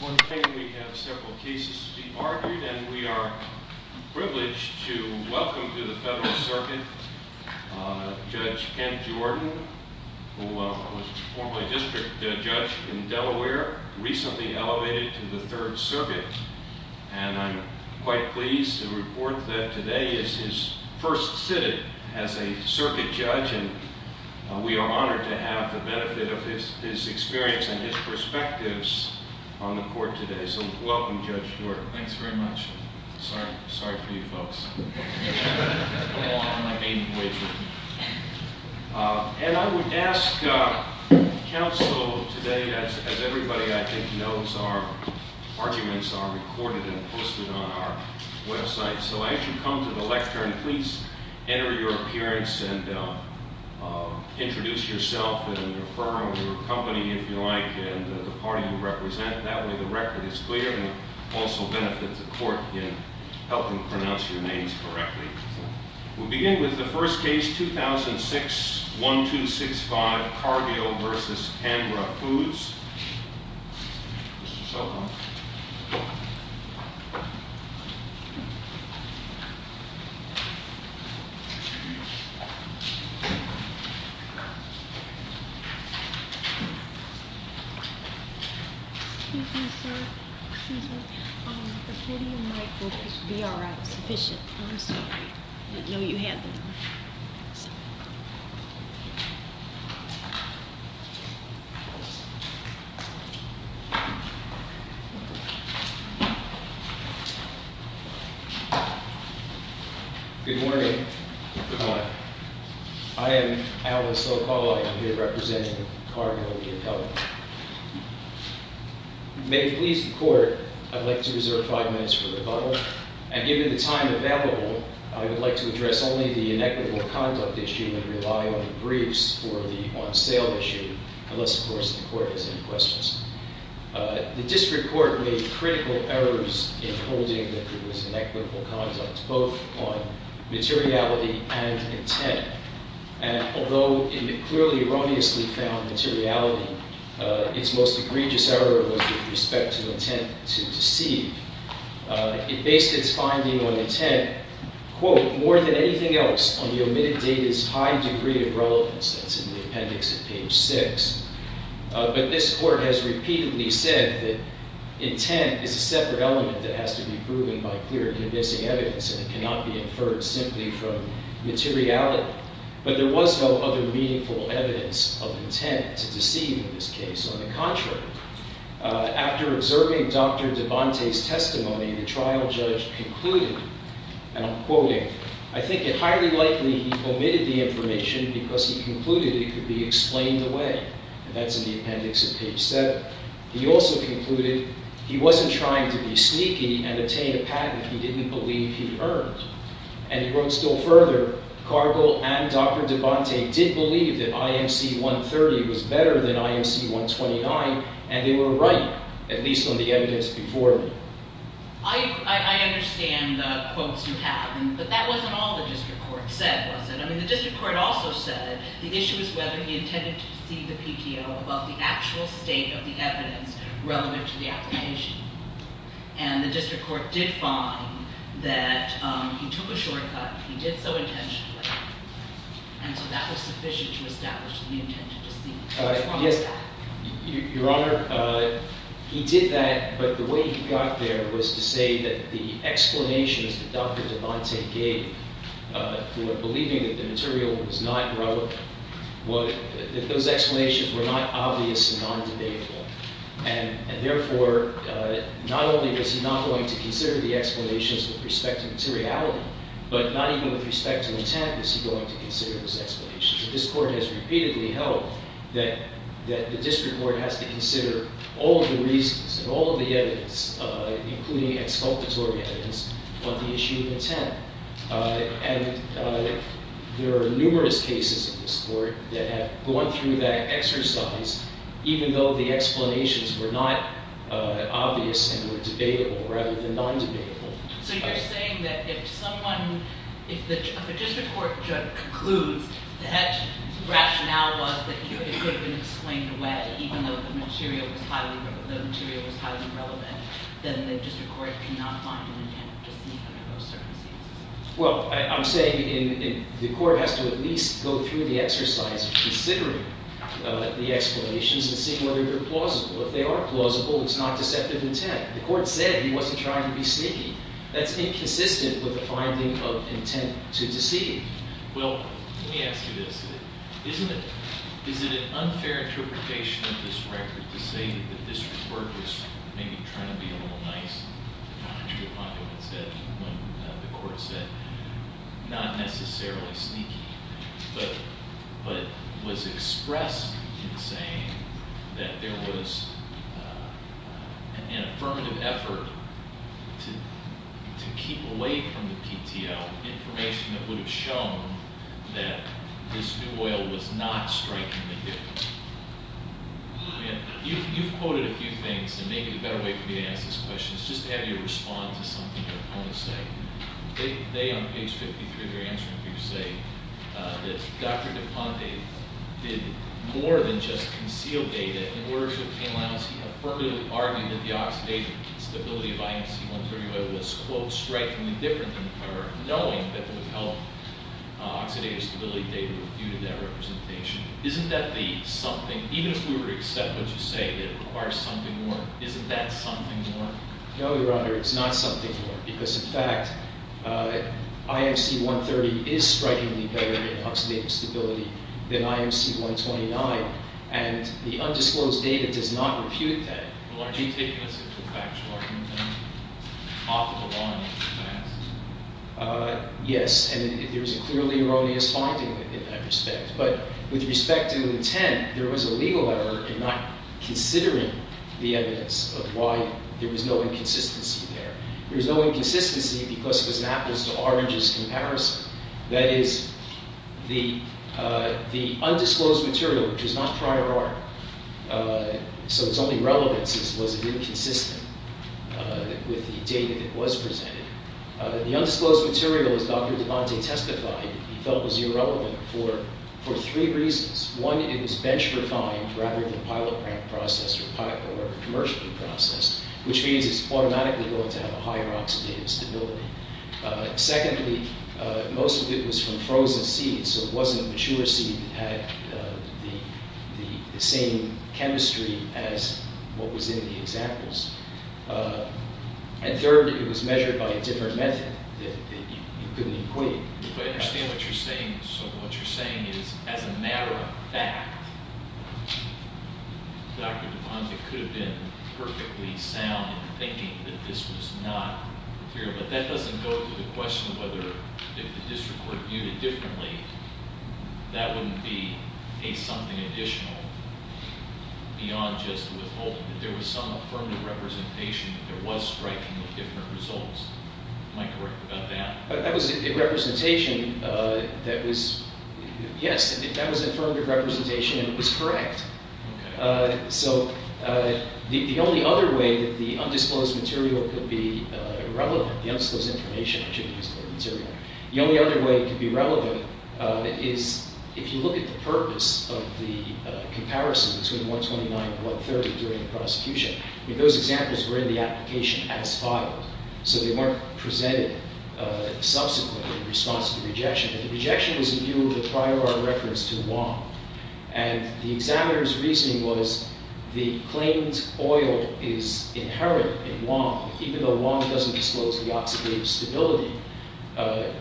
One thing, we have several cases to be bartered and we are privileged to welcome to the Federal Circuit Judge Ken Jordan, who was formerly a district judge in Delaware, recently elevated to the Third Circuit, and I'm quite pleased to report that today is his first sit-in as a circuit judge, and we are honored to have the benefit of his experience and his perspectives. Welcome, Judge Jordan. Thanks very much. Sorry for you folks. And I would ask counsel today, as everybody, I think, knows, our arguments are recorded and posted on our website, so as you come to the lecture, please enter your appearance and introduce yourself and your firm, your company, if you like, and the party you represent. That way, the record is clear and it also benefits the court in helping pronounce your names correctly. We'll begin with the first case, 2006-1265, Cargill v. Canbra Foods. Mr. Solomon. Excuse me, sir. Excuse me. The video mic will just be all right. It's sufficient. I'm sorry. I didn't know you had them on. Sorry. Good morning. Good morning. I am Alan Sokol. I am here representing Cargill v. Pelham. May it please the court, I'd like to reserve five minutes for rebuttal. And given the time available, I would like to address only the inequitable conduct issue and rely on the briefs for the on-sale issue, unless, of course, the court has any questions. The district court made critical errors in holding that there was inequitable conduct, both on materiality and intent. And although it clearly erroneously found materiality, its most egregious error was with respect to intent to deceive. It based its finding on intent, quote, more than anything else, on the omitted data's high degree of relevance. That's in the appendix at page six. But this court has repeatedly said that intent is a separate element that has to be proven by clear, convincing evidence, and it cannot be inferred simply from materiality. But there was no other meaningful evidence of intent to deceive in this case. On the contrary, after observing Dr. DeBonte's testimony, the trial judge concluded, and I'm quoting, I think it highly likely he omitted the information because he concluded it could be explained away. And that's in the appendix at page seven. He also concluded he wasn't trying to be sneaky and obtain a patent he didn't believe he'd earned. And he wrote still further, Cargill and Dr. DeBonte did believe that IMC 130 was better than IMC 129, and they were right, at least on the evidence before me. I understand the quotes you have, but that wasn't all the district court said, was it? I mean, the district court also said the issue is whether he intended to deceive the PTO about the actual state of the evidence relevant to the application. And the district court did find that he took a shortcut, he did so intentionally, and so that was sufficient to establish the intention to deceive. Your Honor, he did that, but the way he got there was to say that the explanations that Dr. DeBonte gave for believing that the material was not relevant, those explanations were not obvious and non-debatable. And therefore, not only was he not going to consider the explanations with respect to materiality, but not even with respect to intent was he going to consider those explanations. And this court has repeatedly held that the district court has to consider all of the reasons and all of the evidence, including exculpatory evidence, on the issue of intent. And there are numerous cases in this court that have gone through that exercise, even though the explanations were not obvious and were debatable, rather than non-debatable. So you're saying that if someone – if the district court concludes that rationale was that it could have been explained away, even though the material was highly relevant, then the district court cannot find an intent to sneak under those circumstances? Well, I'm saying the court has to at least go through the exercise of considering the explanations and seeing whether they're plausible. If they are plausible, it's not deceptive intent. The court said he wasn't trying to be sneaky. That's inconsistent with the finding of intent to deceive. Well, let me ask you this. Isn't it – is it an unfair interpretation of this record to say that the district court was maybe trying to be a little nice? I agree with what the court said. Not necessarily sneaky, but was expressed in saying that there was an affirmative effort to keep away from the PTL information that would have shown that this new oil was not strengthening the difference. You've quoted a few things, and maybe the better way for me to ask this question is just to have you respond to something your opponents say. They, on page 53 of your answer, I think, say that Dr. DePonte did more than just conceal data. In words of Ken Lyons, he affirmatively argued that the oxidative stability of IMC-130 oil was, quote, knowing that it would help oxidative stability data refute that representation. Isn't that the something – even if we were to accept what you say that it requires something more, isn't that something more? No, Your Honor, it's not something more, because, in fact, IMC-130 is strikingly better in oxidative stability than IMC-129, and the undisclosed data does not refute that. Well, aren't you taking a simple factual argument, then, off of a line in the past? Yes, and there's a clearly erroneous finding in that respect. But with respect to intent, there was a legal effort in not considering the evidence of why there was no inconsistency there. There was no inconsistency because it was an apples-to-oranges comparison. That is, the undisclosed material, which is not prior art, so its only relevance was an inconsistency with the data that was presented. The undisclosed material, as Dr. DePonte testified, he felt was irrelevant for three reasons. One, it was bench-refined rather than pilot-processed or commercially processed, which means it's automatically going to have a higher oxidative stability. Secondly, most of it was from frozen seeds, so it wasn't mature seed that had the same chemistry as what was in the examples. And third, it was measured by a different method that you couldn't equate. I understand what you're saying. So what you're saying is, as a matter of fact, Dr. DePonte could have been perfectly sound in thinking that this was not material. But that doesn't go to the question of whether if the district were viewed differently, that wouldn't be a something additional beyond just withholding. If there was some affirmative representation, there was strikingly different results. Am I correct about that? That was a representation that was, yes, that was affirmative representation, and it was correct. So the only other way that the undisclosed material could be relevant, the undisclosed information, I shouldn't use the word material. The only other way it could be relevant is if you look at the purpose of the comparison between 129 and 130 during the prosecution. Those examples were in the application as filed, so they weren't presented subsequently in response to the rejection. But the rejection was in view of a prior art reference to Wong. And the examiner's reasoning was the claimed oil is inherent in Wong, even though Wong doesn't disclose the oxidative stability,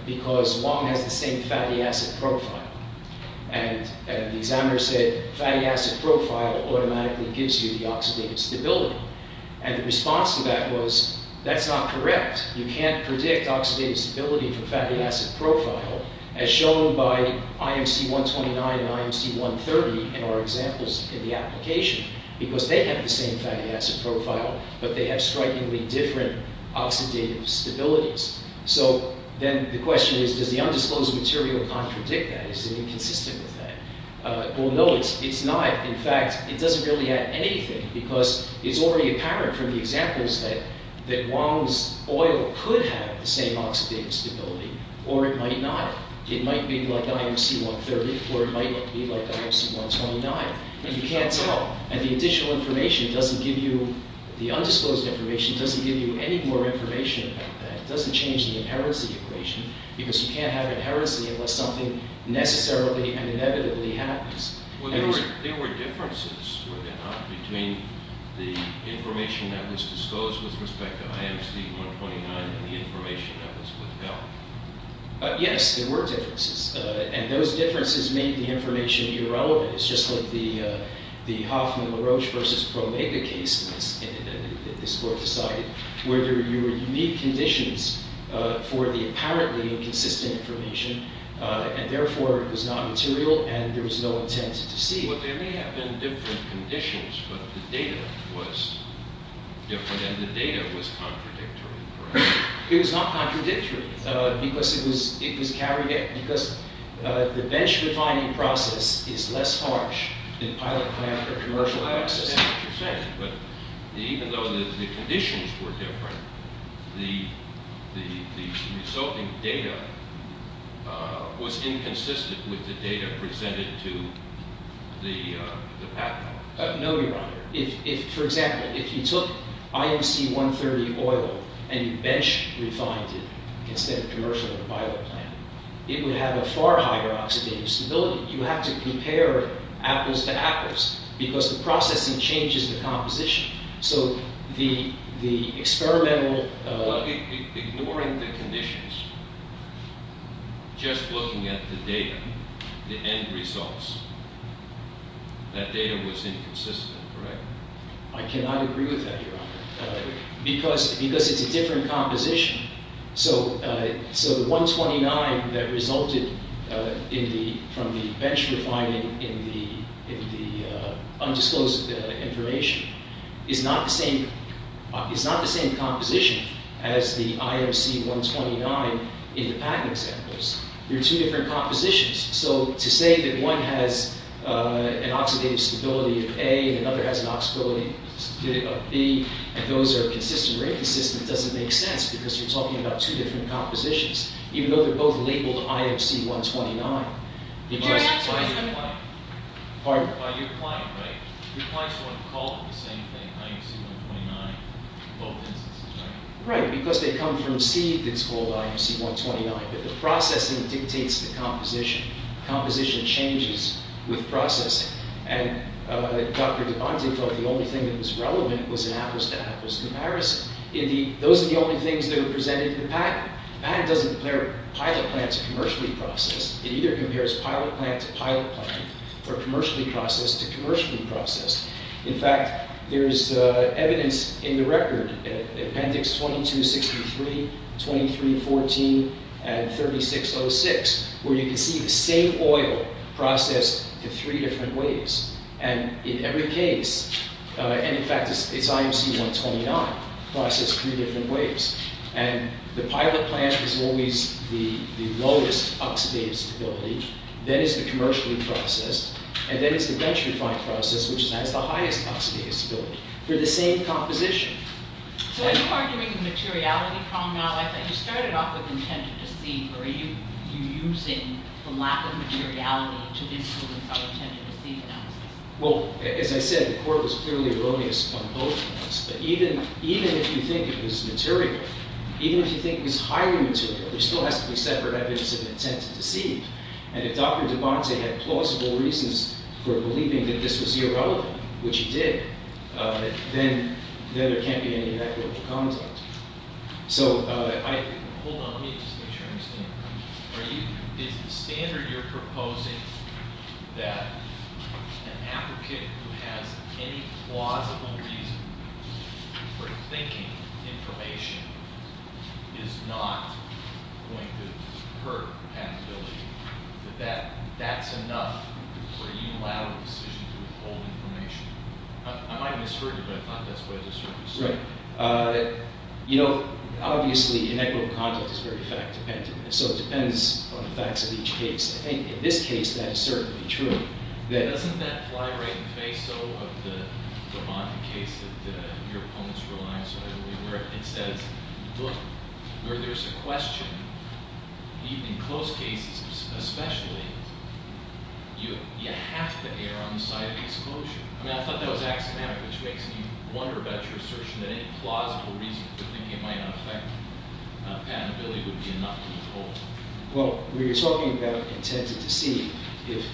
because Wong has the same fatty acid profile. And the examiner said, fatty acid profile automatically gives you the oxidative stability. And the response to that was, that's not correct. You can't predict oxidative stability for fatty acid profile, as shown by IMC 129 and IMC 130 in our examples in the application. Because they have the same fatty acid profile, but they have strikingly different oxidative stabilities. So then the question is, does the undisclosed material contradict that? Is it inconsistent with that? Well, no, it's not. In fact, it doesn't really add anything, because it's already apparent from the examples that Wong's oil could have the same oxidative stability, or it might not. It might be like IMC 130, or it might be like IMC 129. And you can't tell. The undisclosed information doesn't give you any more information about that. It doesn't change the inherency equation, because you can't have inherency unless something necessarily and inevitably happens. There were differences, were there not, between the information that was disclosed with respect to IMC 129 and the information that was withheld? Yes, there were differences. And those differences made the information irrelevant. It's just like the Hoffman-LaRoche versus Promega case that this court decided, where there were unique conditions for the apparently inconsistent information. And therefore, it was not material, and there was no intent to see it. Well, there may have been different conditions, but the data was different, and the data was contradictory. It was not contradictory. Because it was carried out – because the bench-refining process is less harsh than pilot-clamped or commercial access. I understand what you're saying, but even though the conditions were different, the resulting data was inconsistent with the data presented to the patent office. No, Your Honor. For example, if you took IMC 130 oil and you bench-refined it instead of commercial or pilot clamped, it would have a far higher oxidative stability. You have to compare apples to apples, because the processing changes the composition. So the experimental – Just looking at the data, the end results, that data was inconsistent, correct? I cannot agree with that, Your Honor, because it's a different composition. So the 129 that resulted from the bench-refining in the undisclosed information is not the same composition as the IMC 129 in the patent examples. They're two different compositions. So to say that one has an oxidative stability of A and another has an oxidative stability of B and those are consistent or inconsistent doesn't make sense, because you're talking about two different compositions, even though they're both labeled IMC 129. Can I ask a question? Pardon? You're applying, right? You're applying to one called the same thing, IMC 129, in both instances, right? Right, because they come from C that's called IMC 129, but the processing dictates the composition. Composition changes with processing. And Dr. DeBonte thought the only thing that was relevant was an apples-to-apples comparison. Those are the only things that are presented in the patent. The patent doesn't compare pilot plant to commercially processed. It either compares pilot plant to pilot plant or commercially processed to commercially processed. In fact, there's evidence in the record, appendix 2263, 2314, and 3606, where you can see the same oil processed in three different ways. And in every case, and in fact, it's IMC 129 processed three different ways. And the pilot plant is always the lowest oxidative stability. That is the commercially processed. And that is the bench refined process, which has the highest oxidative stability. They're the same composition. So are you arguing the materiality problem now? You started off with intent to deceive, or are you using the lack of materiality to influence our intent to deceive analysis? Well, as I said, the court was clearly erroneous on both fronts. But even if you think it was material, even if you think it was highly material, there still has to be separate evidence of intent to deceive. And if Dr. DeBonte had plausible reasons for believing that this was irrelevant, which he did, then there can't be any inequitable context. Hold on. Let me just make sure I understand. Is the standard you're proposing that an applicant who has any plausible reason for thinking information is not going to hurt compatibility, that that's enough for a unilateral decision to withhold information? I might have misheard you, but I thought that's what I just heard you say. You know, obviously, inequitable context is very fact-dependent. So it depends on the facts of each case. I think in this case, that is certainly true. Doesn't that fly right in the face, though, of the DeBonte case that your opponents rely on so heavily? Where it says, look, where there's a question, even in close cases especially, you have to err on the side of exclusion. I mean, I thought that was axiomatic, which makes me wonder about your assertion that any plausible reason for thinking it might not affect compatibility would be enough to withhold. Well, when you're talking about intent to deceive, if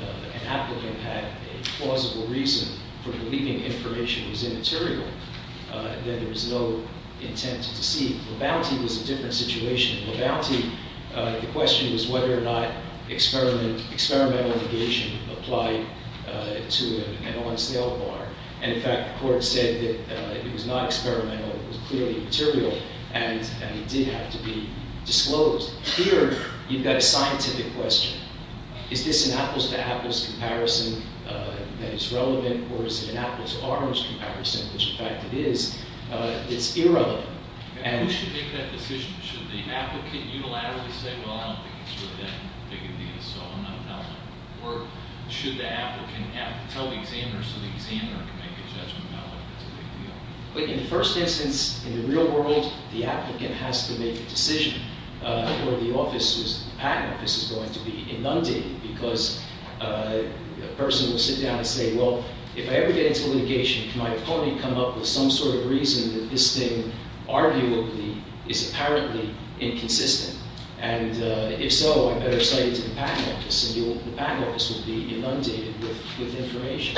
an applicant had a plausible reason for believing information was immaterial, then there was no intent to deceive. LeBonte was a different situation. LeBonte, the question was whether or not experimental negation applied to an on-sale bar. And in fact, the court said that it was not experimental. It was clearly immaterial, and it did have to be disclosed. Here, you've got a scientific question. Is this an apples-to-apples comparison that is relevant? Or is it an apples-to-orange comparison, which in fact it is? It's irrelevant. Who should make that decision? Should the applicant unilaterally say, well, I don't think it's really that big a deal, so I'm not telling. Or should the applicant tell the examiner so the examiner can make a judgment about whether it's a big deal? In the first instance, in the real world, the applicant has to make the decision. Or the patent office is going to be inundated because a person will sit down and say, well, if I ever get into litigation, can my opponent come up with some sort of reason that this thing arguably is apparently inconsistent? And if so, I better say it to the patent office, and the patent office will be inundated with information.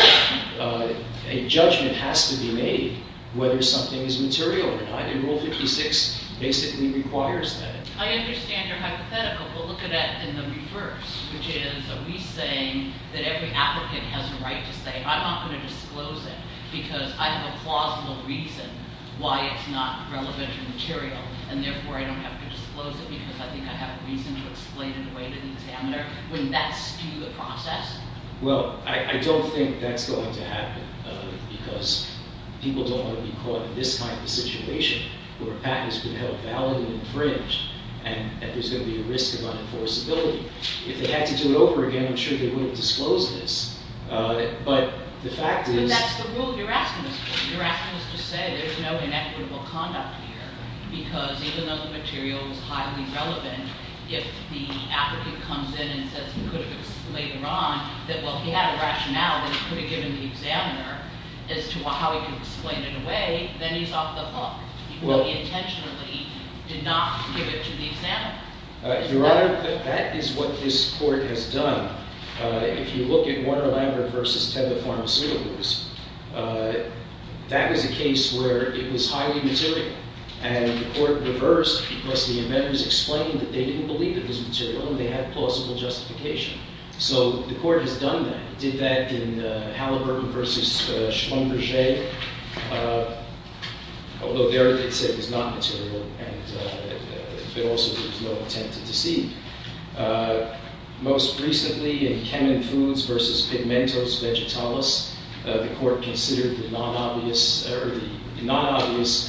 A judgment has to be made whether something is material, and Rule 56 basically requires that. I understand your hypothetical, but look at it in the reverse, which is are we saying that every applicant has a right to say, I'm not going to disclose it because I have a plausible reason why it's not relevant or material, and therefore I don't have to disclose it because I think I have reason to explain it away to the examiner? Wouldn't that skew the process? Well, I don't think that's going to happen because people don't want to be caught in this type of situation where a patent has been held valid and infringed, and there's going to be a risk of unenforceability. If they had to do it over again, I'm sure they wouldn't disclose this. But the fact is— But that's the rule you're asking us for. You're asking us to say there's no inequitable conduct here because even though the material is highly relevant, if the applicant comes in and says he could have explained it wrong, that, well, he had a rationale that he could have given the examiner as to how he could explain it away, then he's off the hook, even though he intentionally did not give it to the examiner. Your Honor, that is what this court has done. If you look at Warner-Lambert v. Theda Pharmaceuticals, that was a case where it was highly material, and the court reversed because the inventors explained that they didn't believe it was material, and they had plausible justification. So the court has done that. It did that in Halliburton v. Schlumberger, although there they said it was not material, and that also there was no intent to deceive. Most recently in Kenan Foods v. Pigmentos Vegetalis, the court considered the non-obvious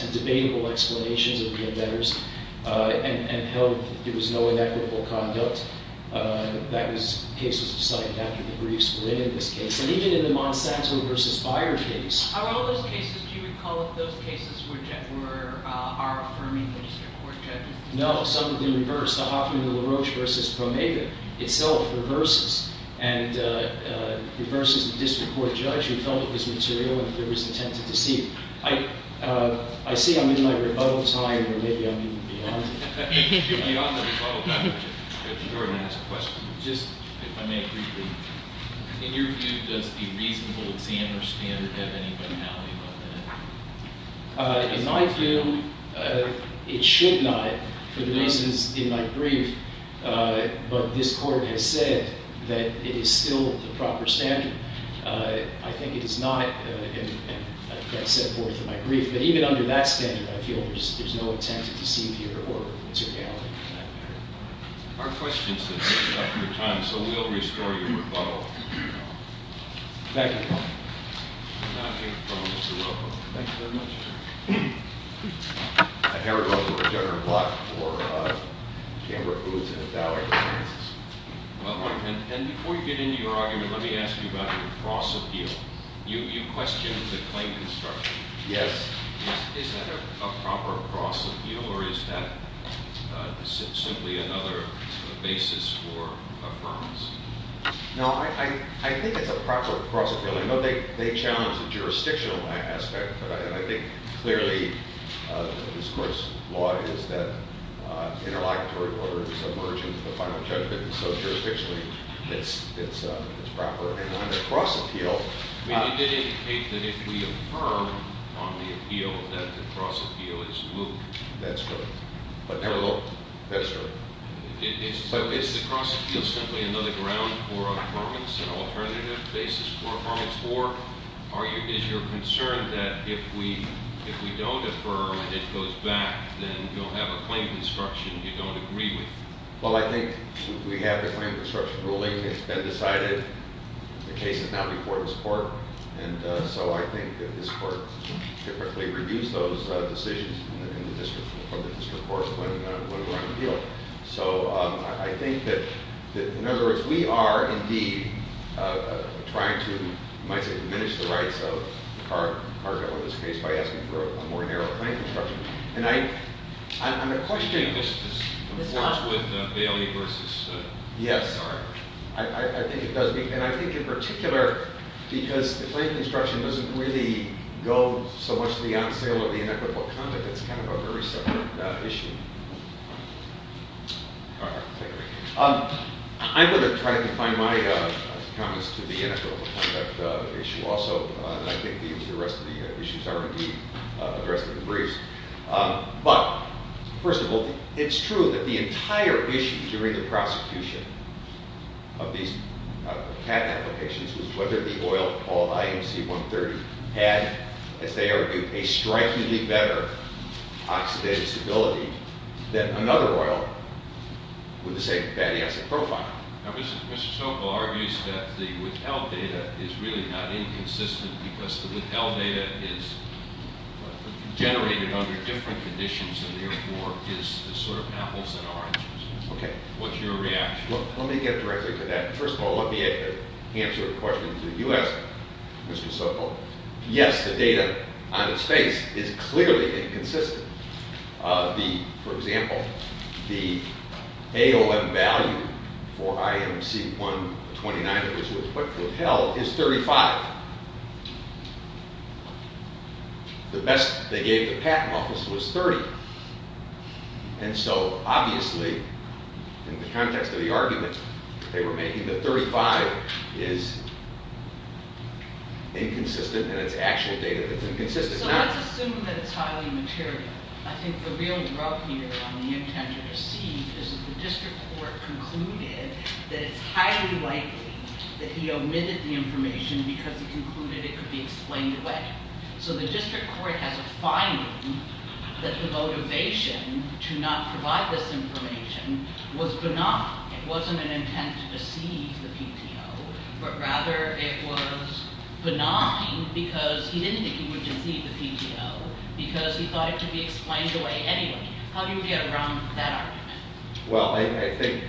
and debatable explanations of the inventors and held that there was no inequitable conduct. That case was decided after the briefs were in in this case. And even in the Monsanto v. Beyer case— Are all those cases—do you recall if those cases were our affirming magistrate court judges? No, some of them reversed. The Hoffman v. LaRoche v. Promega itself reverses, and reverses the district court judge who felt it was material and there was intent to deceive. I see I'm in my rebuttal time, or maybe I'm even beyond it. You're beyond the rebuttal time. Your Honor, I have a question, just if I may briefly. In your view, does the reasonable examiner standard have any vitality about that? In my view, it should not for the reasons in my brief. But this court has said that it is still the proper standard. I think it is not. And I've got set forth in my brief. But even under that standard, I feel there's no intent to deceive here or materiality in that matter. Our questions have run out of time, so we'll restore your rebuttal. Thank you. I take the floor, Mr. Wilcox. Thank you very much, Your Honor. Harry Wilcox for Governor Block for the Chamber of Booths and the Ballet of Sciences. Wilcox, and before you get into your argument, let me ask you about your cross-appeal. You questioned the claim construction. Yes. Is that a proper cross-appeal, or is that simply another basis for affirmance? No, I think it's a proper cross-appeal. I know they challenge the jurisdictional aspect, but I think clearly this court's law is that interlocutory order is emergent with the final judgment. And so, jurisdictionally, it's proper. And on the cross-appeal- But you did indicate that if we affirm on the appeal that the cross-appeal is moot. That's correct. But never looked. That's correct. So is the cross-appeal simply another ground for affirmance, an alternative basis for affirmance? Or is your concern that if we don't affirm and it goes back, then you'll have a claim construction you don't agree with? Well, I think we have a claim construction ruling. It's been decided. The case is now before this court. And so I think that this court can correctly reduce those decisions in the district court when we're on appeal. So I think that, in other words, we are, indeed, trying to, you might say, diminish the rights of our bill in this case by asking for a more narrow claim construction. And I'm a question- Does this conflict with Bailey versus- Yes. All right. I think it does. And I think in particular because the claim construction doesn't really go so much to the on sale or the inequitable conduct. But that's kind of a very separate issue. All right. I'm going to try to confine my comments to the inequitable conduct issue also. And I think the rest of the issues are, indeed, addressed in the briefs. But, first of all, it's true that the entire issue during the prosecution of these patent applications was whether the oil called IMC 130 had, as they argued, a strikingly better oxidative stability than another oil with the same fatty acid profile. Now, Mr. Sokol argues that the withheld data is really not inconsistent because the withheld data is generated under different conditions and therefore is the sort of apples and oranges. Okay. What's your reaction? Well, let me get directly to that. First of all, let me answer a question that you asked, Mr. Sokol. Yes, the data on its face is clearly inconsistent. For example, the AOM value for IMC 129, which was what was withheld, is 35. The best they gave the patent office was 30. And so, obviously, in the context of the argument they were making that 35 is inconsistent and it's actual data that's inconsistent. So let's assume that it's highly material. I think the real rub here on the intent to deceive is that the district court concluded that it's highly likely that he omitted the information because he concluded it could be explained away. So the district court has a finding that the motivation to not provide this information was benign. It wasn't an intent to deceive the PTO, but rather it was benign because he didn't think he would deceive the PTO because he thought it could be explained away anyway. How do you get around that argument? Well, I think,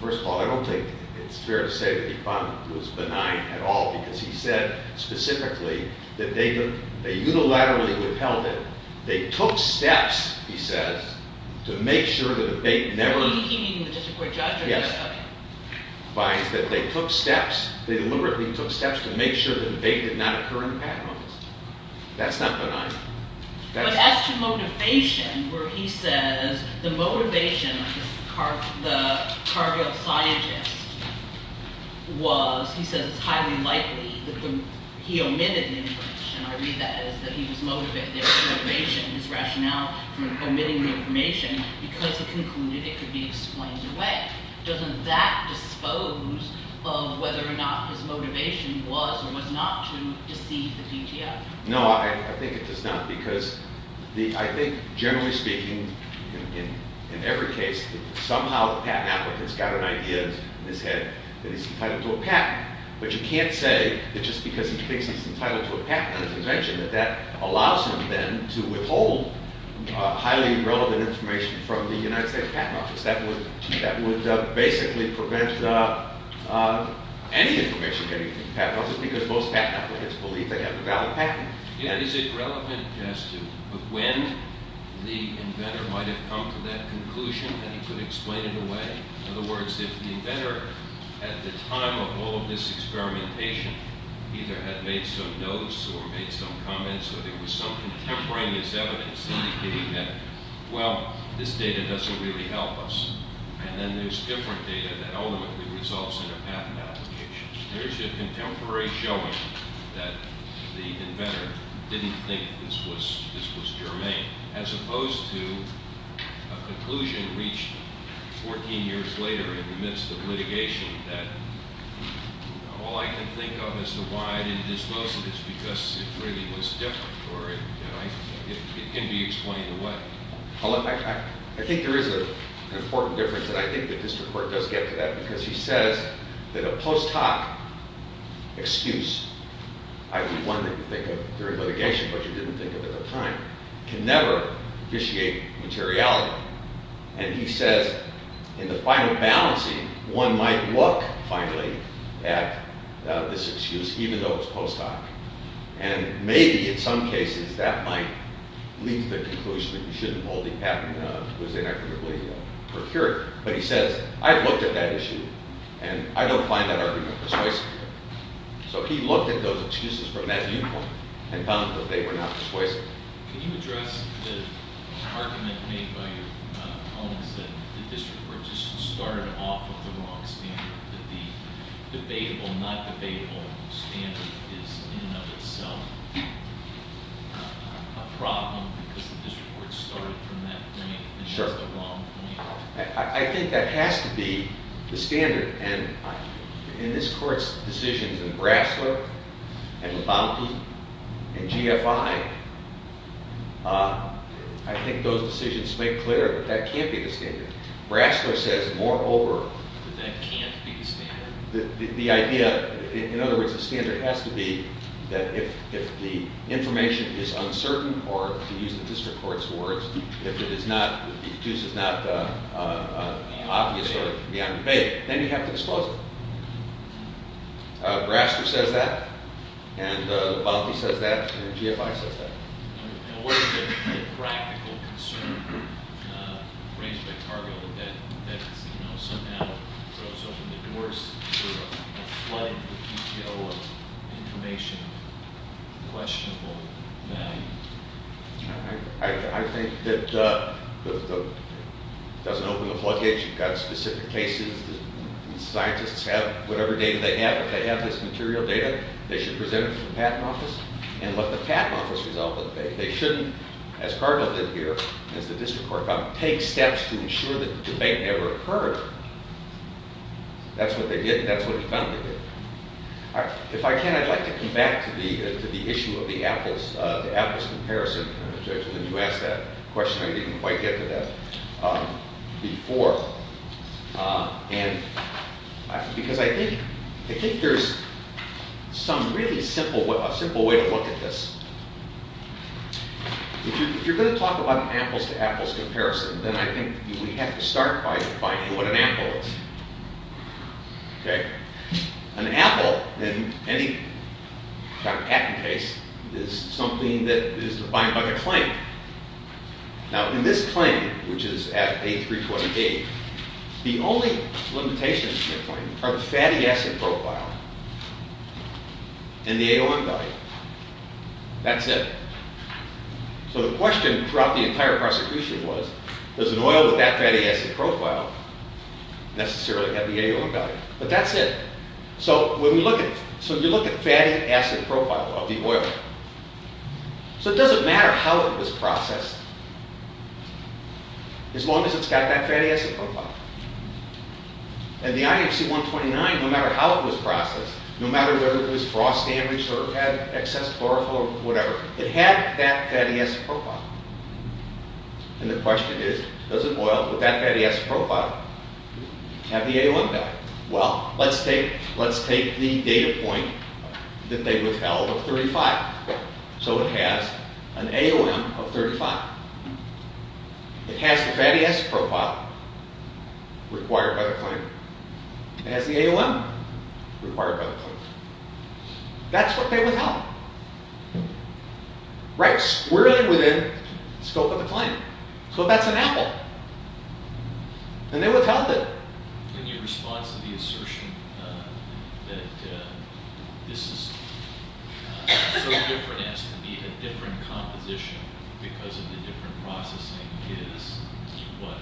first of all, I don't think it's fair to say that he found it was benign at all because he said specifically that they unilaterally withheld it. They took steps, he says, to make sure that they never- He, meaning the district court judge? Yes. Okay. That they took steps, they deliberately took steps to make sure that they did not occur in the patent office. That's not benign. But as to motivation, where he says the motivation of the cardiopsychiatrist was, he says it's highly likely that he omitted the information. I read that as that he was motivated, there was motivation in his rationale for omitting the information because he concluded it could be explained away. Doesn't that dispose of whether or not his motivation was or was not to deceive the PTO? No, I think it does not because I think, generally speaking, in every case, somehow the patent applicant's got an idea in his head that he's entitled to a patent. But you can't say that just because he thinks he's entitled to a patent on his invention that that allows him then to withhold highly relevant information from the United States Patent Office. That would basically prevent any information getting to the patent office because most patent applicants believe they have a valid patent. Yeah, is it relevant just to when the inventor might have come to that conclusion that he could explain it away? In other words, if the inventor at the time of all of this experimentation either had made some notes or made some comments or there was some contemporaneous evidence indicating that, well, this data doesn't really help us, and then there's different data that ultimately results in a patent application. There's a contemporary showing that the inventor didn't think this was germane as opposed to a conclusion reached 14 years later in the midst of litigation that all I can think of as to why it didn't dispose of it is because it really was different or it can be explained away. I think there is an important difference, and I think the district court does get to that because he says that a post hoc excuse, either one that you think of during litigation but you didn't think of at the time, can never officiate materiality. And he says in the final balancing, one might look finally at this excuse even though it's post hoc, and maybe in some cases that might lead to the conclusion that you shouldn't hold the patent that was inequitably procured. But he says, I've looked at that issue, and I don't find that argument persuasive. So he looked at those excuses from that viewpoint and found that they were not persuasive. Can you address the argument made by your opponents that the district court just started off with the wrong standard, that the debatable, not debatable standard is in and of itself a problem because the district court started from that point and that's the wrong point? I think that has to be the standard. And in this court's decisions in Brasler and Labonte and GFI, I think those decisions make clear that that can't be the standard. Brasler says moreover that that can't be the standard. The idea, in other words, the standard has to be that if the information is uncertain, or to use the district court's words, if it is not, if the excuse is not obvious or beyond debate, then you have to disclose it. Brasler says that, and Labonte says that, and GFI says that. What is the practical concern raised by Cargill that somehow throws open the doors to a flood of information, questionable value? I think that it doesn't open the floodgates. You've got specific cases. Scientists have whatever data they have. They have this material data. They should present it to the patent office, and let the patent office resolve the debate. They shouldn't, as Cargill did here, as the district court found, take steps to ensure that the debate never occurred. That's what they did, and that's what the defendant did. If I can, I'd like to come back to the issue of the Apples comparison. You asked that question. I didn't quite get to that before, because I think there's some really simple way to look at this. If you're going to talk about an Apples-to-Apples comparison, then I think we have to start by defining what an Apple is. An Apple, in any patent case, is something that is defined by the claim. Now, in this claim, which is at A328, the only limitations in the claim are the fatty acid profile and the AOM value. That's it. So the question throughout the entire prosecution was, does an oil with that fatty acid profile necessarily have the AOM value? But that's it. So you look at fatty acid profile of the oil. So it doesn't matter how it was processed, as long as it's got that fatty acid profile. And the IFC-129, no matter how it was processed, no matter whether it was frost damaged or had excess chlorophyll or whatever, it had that fatty acid profile. And the question is, does an oil with that fatty acid profile have the AOM value? Well, let's take the data point that they withheld of 35. So it has an AOM of 35. It has the fatty acid profile required by the claim. It has the AOM required by the claim. That's what they withheld. Right squarely within the scope of the claim. So that's an Apple. And they withheld it. In your response to the assertion that this is so different as to be a different composition because of the different processing, is what?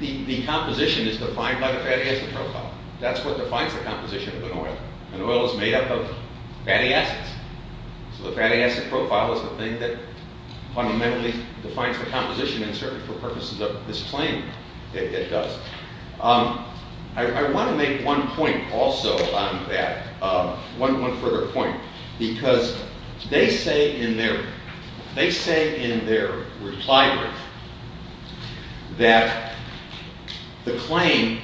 The composition is defined by the fatty acid profile. That's what defines the composition of an oil. An oil is made up of fatty acids. So the fatty acid profile is the thing that fundamentally defines the composition, and certainly for purposes of this claim, it does. I want to make one point also on that, one further point. Because they say in their reply brief that the claim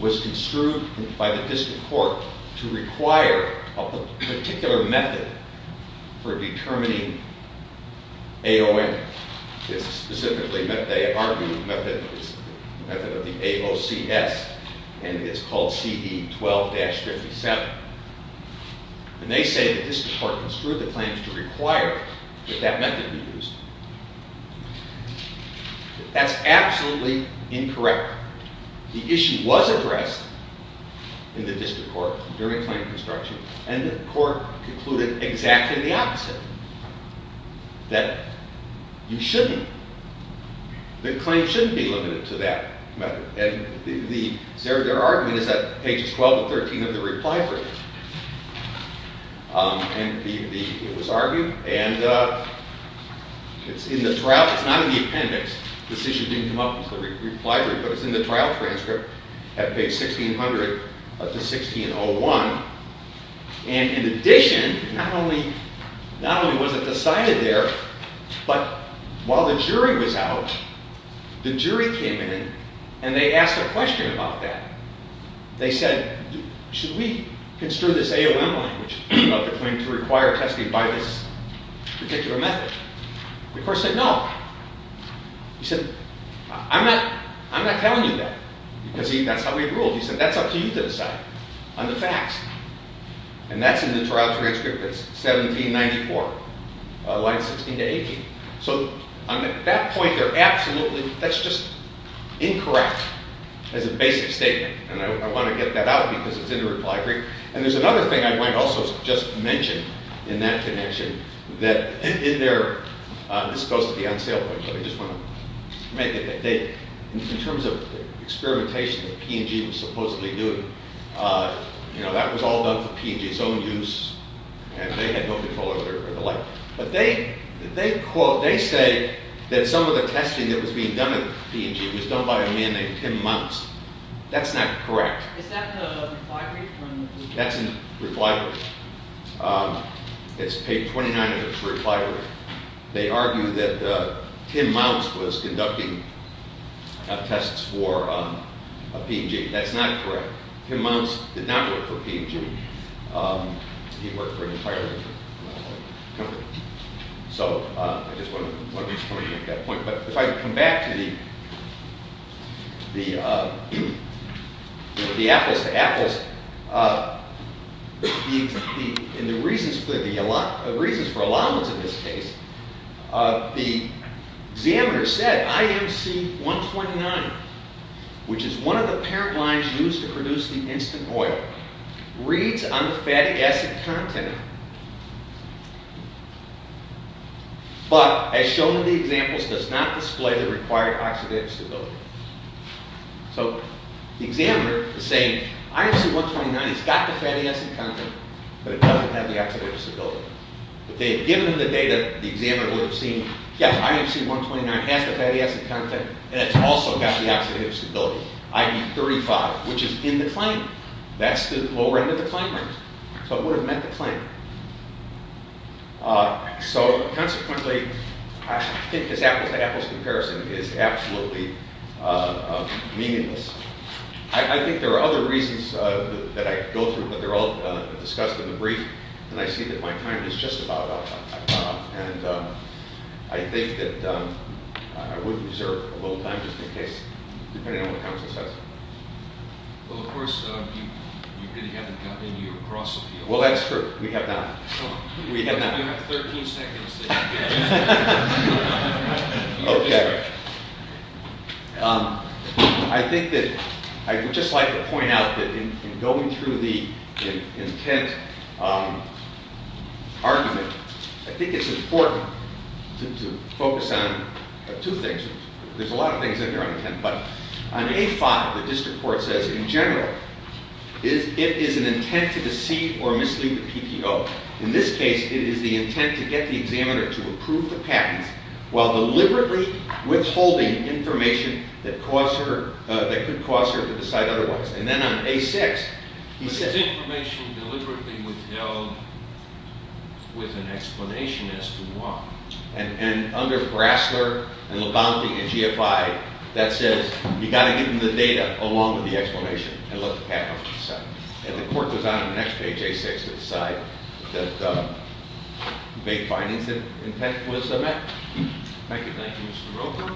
was construed by the district court to require a particular method for determining AOM. Specifically, they argued the method of the AOCS, and it's called CE 12-57. And they say the district court construed the claims to require that that method be used. That's absolutely incorrect. The issue was addressed in the district court during claim construction, and the court concluded exactly the opposite. That you shouldn't, the claim shouldn't be limited to that method. And their argument is that pages 12 and 13 of the reply brief. And it was argued, and it's in the trial, it's not in the appendix. This issue didn't come up in the reply brief, but it's in the trial transcript at page 1600 to 1601. And in addition, not only was it decided there, but while the jury was out, the jury came in and they asked a question about that. They said, should we construe this AOM language of the claim to require testing by this particular method? The court said, no. He said, I'm not telling you that. Because that's how he ruled. He said, that's up to you to decide on the facts. And that's in the trial transcript. It's 1794, line 16 to 18. So at that point, they're absolutely, that's just incorrect as a basic statement. And I want to get that out because it's in the reply brief. And there's another thing I might also just mention in that connection. That in their, this is supposed to be on sale, but I just want to make it that they, in terms of experimentation that P&G was supposedly doing, you know, that was all done for P&G's own use. And they had no control over it or the like. But they quote, they say that some of the testing that was being done at P&G was done by a man named Tim Mounce. That's not correct. Is that in the reply brief? That's in the reply brief. It's page 29 of the reply brief. They argue that Tim Mounce was conducting tests for P&G. That's not correct. Tim Mounce did not work for P&G. He worked for an entirely different company. So I just wanted to make that point. But if I come back to the apples to apples, in the reasons for allowance in this case, the examiner said IMC 129, which is one of the parent lines used to produce the instant oil, reads on the fatty acid content, but as shown in the examples, does not display the required oxidative stability. So the examiner is saying IMC 129 has got the fatty acid content, but it doesn't have the oxidative stability. If they had given them the data, the examiner would have seen, yes, IMC 129 has the fatty acid content, and it's also got the oxidative stability, IB35, which is in the claim. That's the lower end of the claim. So it would have met the claim. So consequently, I think this apples to apples comparison is absolutely meaningless. I think there are other reasons that I could go through, but they're all discussed in the brief, and I see that my time is just about up. And I think that I would reserve a little time just in case, depending on what counsel says. Well, of course, you really haven't gotten into your cross-appeal. Well, that's true. We have not. We have not. You have 13 seconds to get into it. Okay. I think that I would just like to point out that in going through the intent argument, I think it's important to focus on two things. There's a lot of things in there on intent, but on A5, the district court says, in general, it is an intent to deceive or mislead the PTO. In this case, it is the intent to get the examiner to approve the patent while deliberately withholding information that could cause her to decide otherwise. And then on A6, he says— But it's information deliberately withheld with an explanation as to why. And under Brasler and Labonte and GFI, that says you've got to give them the data along with the explanation and let the patent officer decide. And the court goes on on the next page, A6, to decide that the vague findings of intent was met. Thank you. Thank you, Mr. Roper.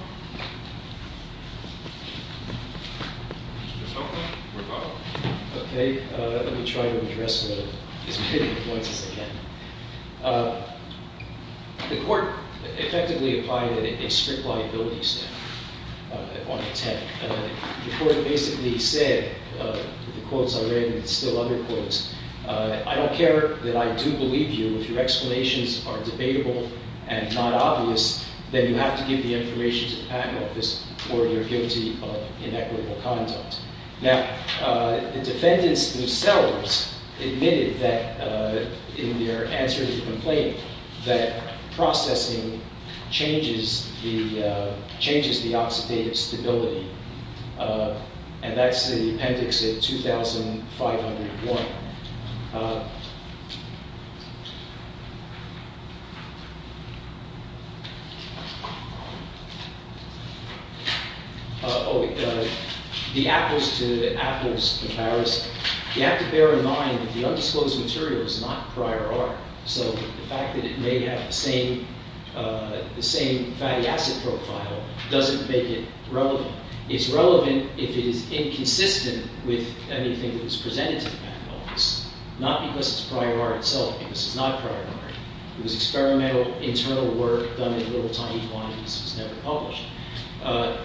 Mr. Sokol or both. Okay. Let me try to address the disputing points again. The court effectively applied a strict liability standard on intent. The court basically said, with the quotes I read and still other quotes, I don't care that I do believe you if your explanations are debatable and not obvious, then you have to give the information to the patent office or you're guilty of inequitable conduct. Now, the defendants themselves admitted that, in their answer to the complaint, that processing changes the oxidative stability. And that's the appendix at 2501. Oh, the apples to apples comparison. You have to bear in mind that the undisclosed material is not prior art, so the fact that it may have the same fatty acid profile doesn't make it relevant. It's relevant if it is inconsistent with anything that was presented to the patent office, not because it's prior art itself, because it's not prior art. It was experimental internal work done in little tiny quantities. It was never published.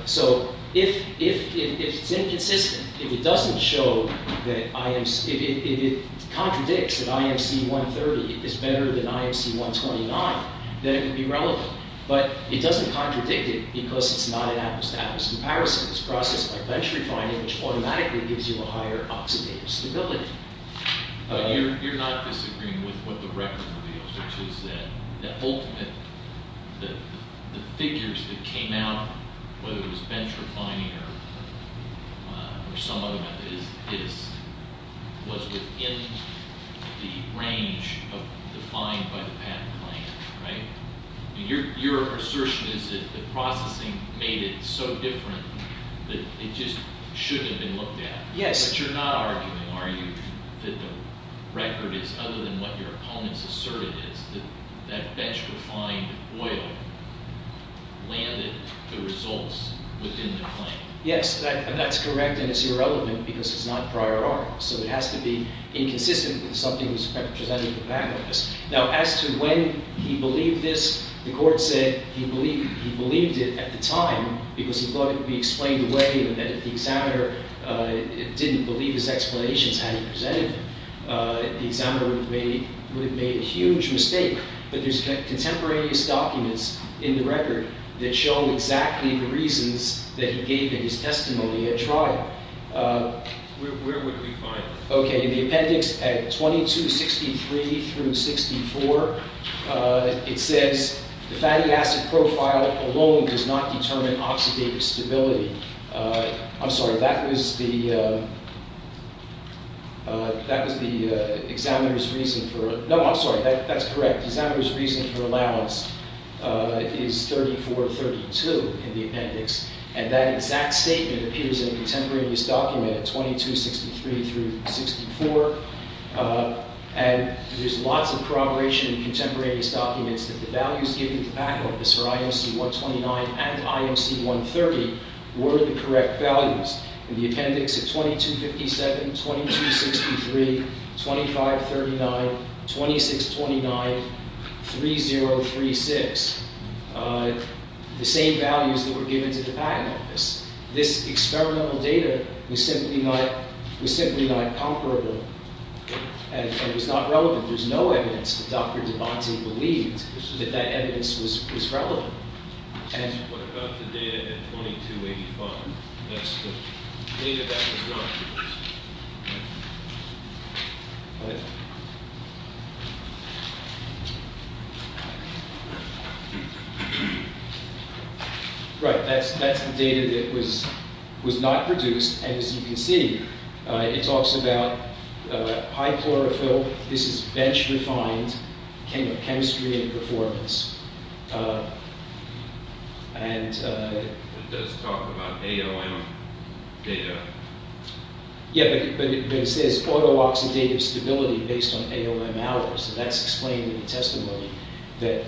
So if it's inconsistent, if it doesn't show that I am – if it contradicts that IMC 130 is better than IMC 129, then it would be relevant. But it doesn't contradict it because it's not an apples to apples comparison. It's processed by bench refining, which automatically gives you a higher oxidative stability. But you're not disagreeing with what the record reveals, which is that the ultimate – the figures that came out, whether it was bench refining or some other method, was within the range defined by the patent claim, right? Your assertion is that the processing made it so different that it just shouldn't have been looked at. Yes. But you're not arguing, are you, that the record is other than what your opponents asserted is that that bench refined oil landed the results within the claim? Yes, that's correct, and it's irrelevant because it's not prior art. So it has to be inconsistent with something that was presented to the patent office. Now, as to when he believed this, the court said he believed it at the time because he thought it would be explained away and that if the examiner didn't believe his explanations had he presented them, the examiner would have made a huge mistake. But there's contemporaneous documents in the record that show exactly the reasons that he gave in his testimony at trial. Where would we find them? Okay, in the appendix at 2263 through 64, it says, the fatty acid profile alone does not determine oxidative stability. I'm sorry, that was the examiner's reason for – no, I'm sorry, that's correct. The examiner's reason for allowance is 3432 in the appendix, and that exact statement appears in a contemporaneous document at 2263 through 64, and there's lots of corroboration in contemporaneous documents that the values given to the patent office for IMC 129 and IMC 130 were the correct values. In the appendix at 2257, 2263, 2539, 2629, 3036, the same values that were given to the patent office. This experimental data was simply not comparable, and it was not relevant. There's no evidence that Dr. DeBattey believed that that evidence was relevant. What about the data at 2285? That's the data that was not produced. Right, that's the data that was not produced, and as you can see, it talks about high chlorophyll. This is bench-refined chemistry and performance. It does talk about ALM data. Yeah, but it says auto-oxidative stability based on ALM hours, and that's explained in the testimony that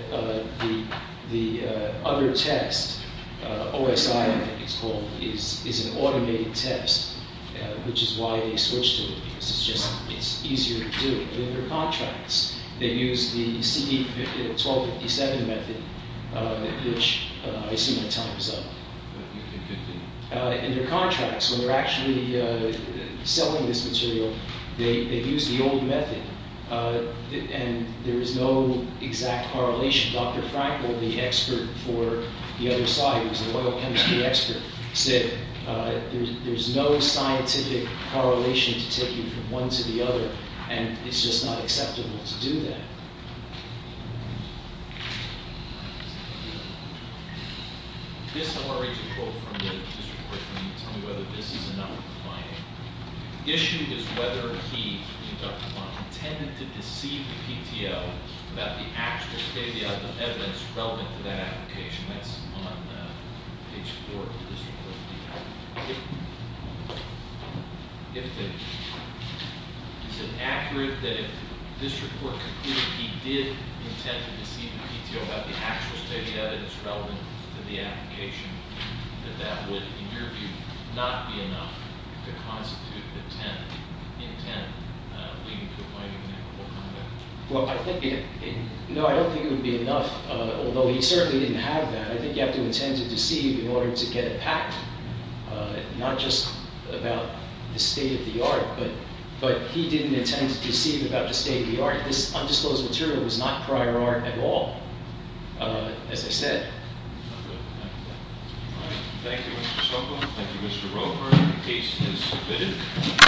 the other test, OSI I think it's called, is an automated test, which is why they switched to it, because it's just easier to do. But in their contracts, they use the CD1257 method, which I assume the time is up. In their contracts, when they're actually selling this material, they use the old method, and there is no exact correlation. Dr. Frankl, the expert for the other side, who's an oil chemistry expert, said there's no scientific correlation to take you from one to the other, and it's just not acceptable to do that. This is a quote from the district court, and I need to tell you whether this is enough or not. The issue is whether he, Dr. Blunt, intended to deceive the PTO about the actual state of the evidence relevant to that application. That's on page 4 of this report. Is it accurate that if this report concluded he did intend to deceive the PTO about the actual state of the evidence relevant to the application, that that would, in your view, not be enough to constitute intent leading to a point of inevitable conflict? No, I don't think it would be enough, although he certainly didn't have that. I think you have to intend to deceive in order to get it packed, not just about the state of the art. But he didn't intend to deceive about the state of the art. This undisclosed material was not prior art at all, as I said. Thank you, Mr. Sobel. Thank you, Mr. Roper. Case is submitted.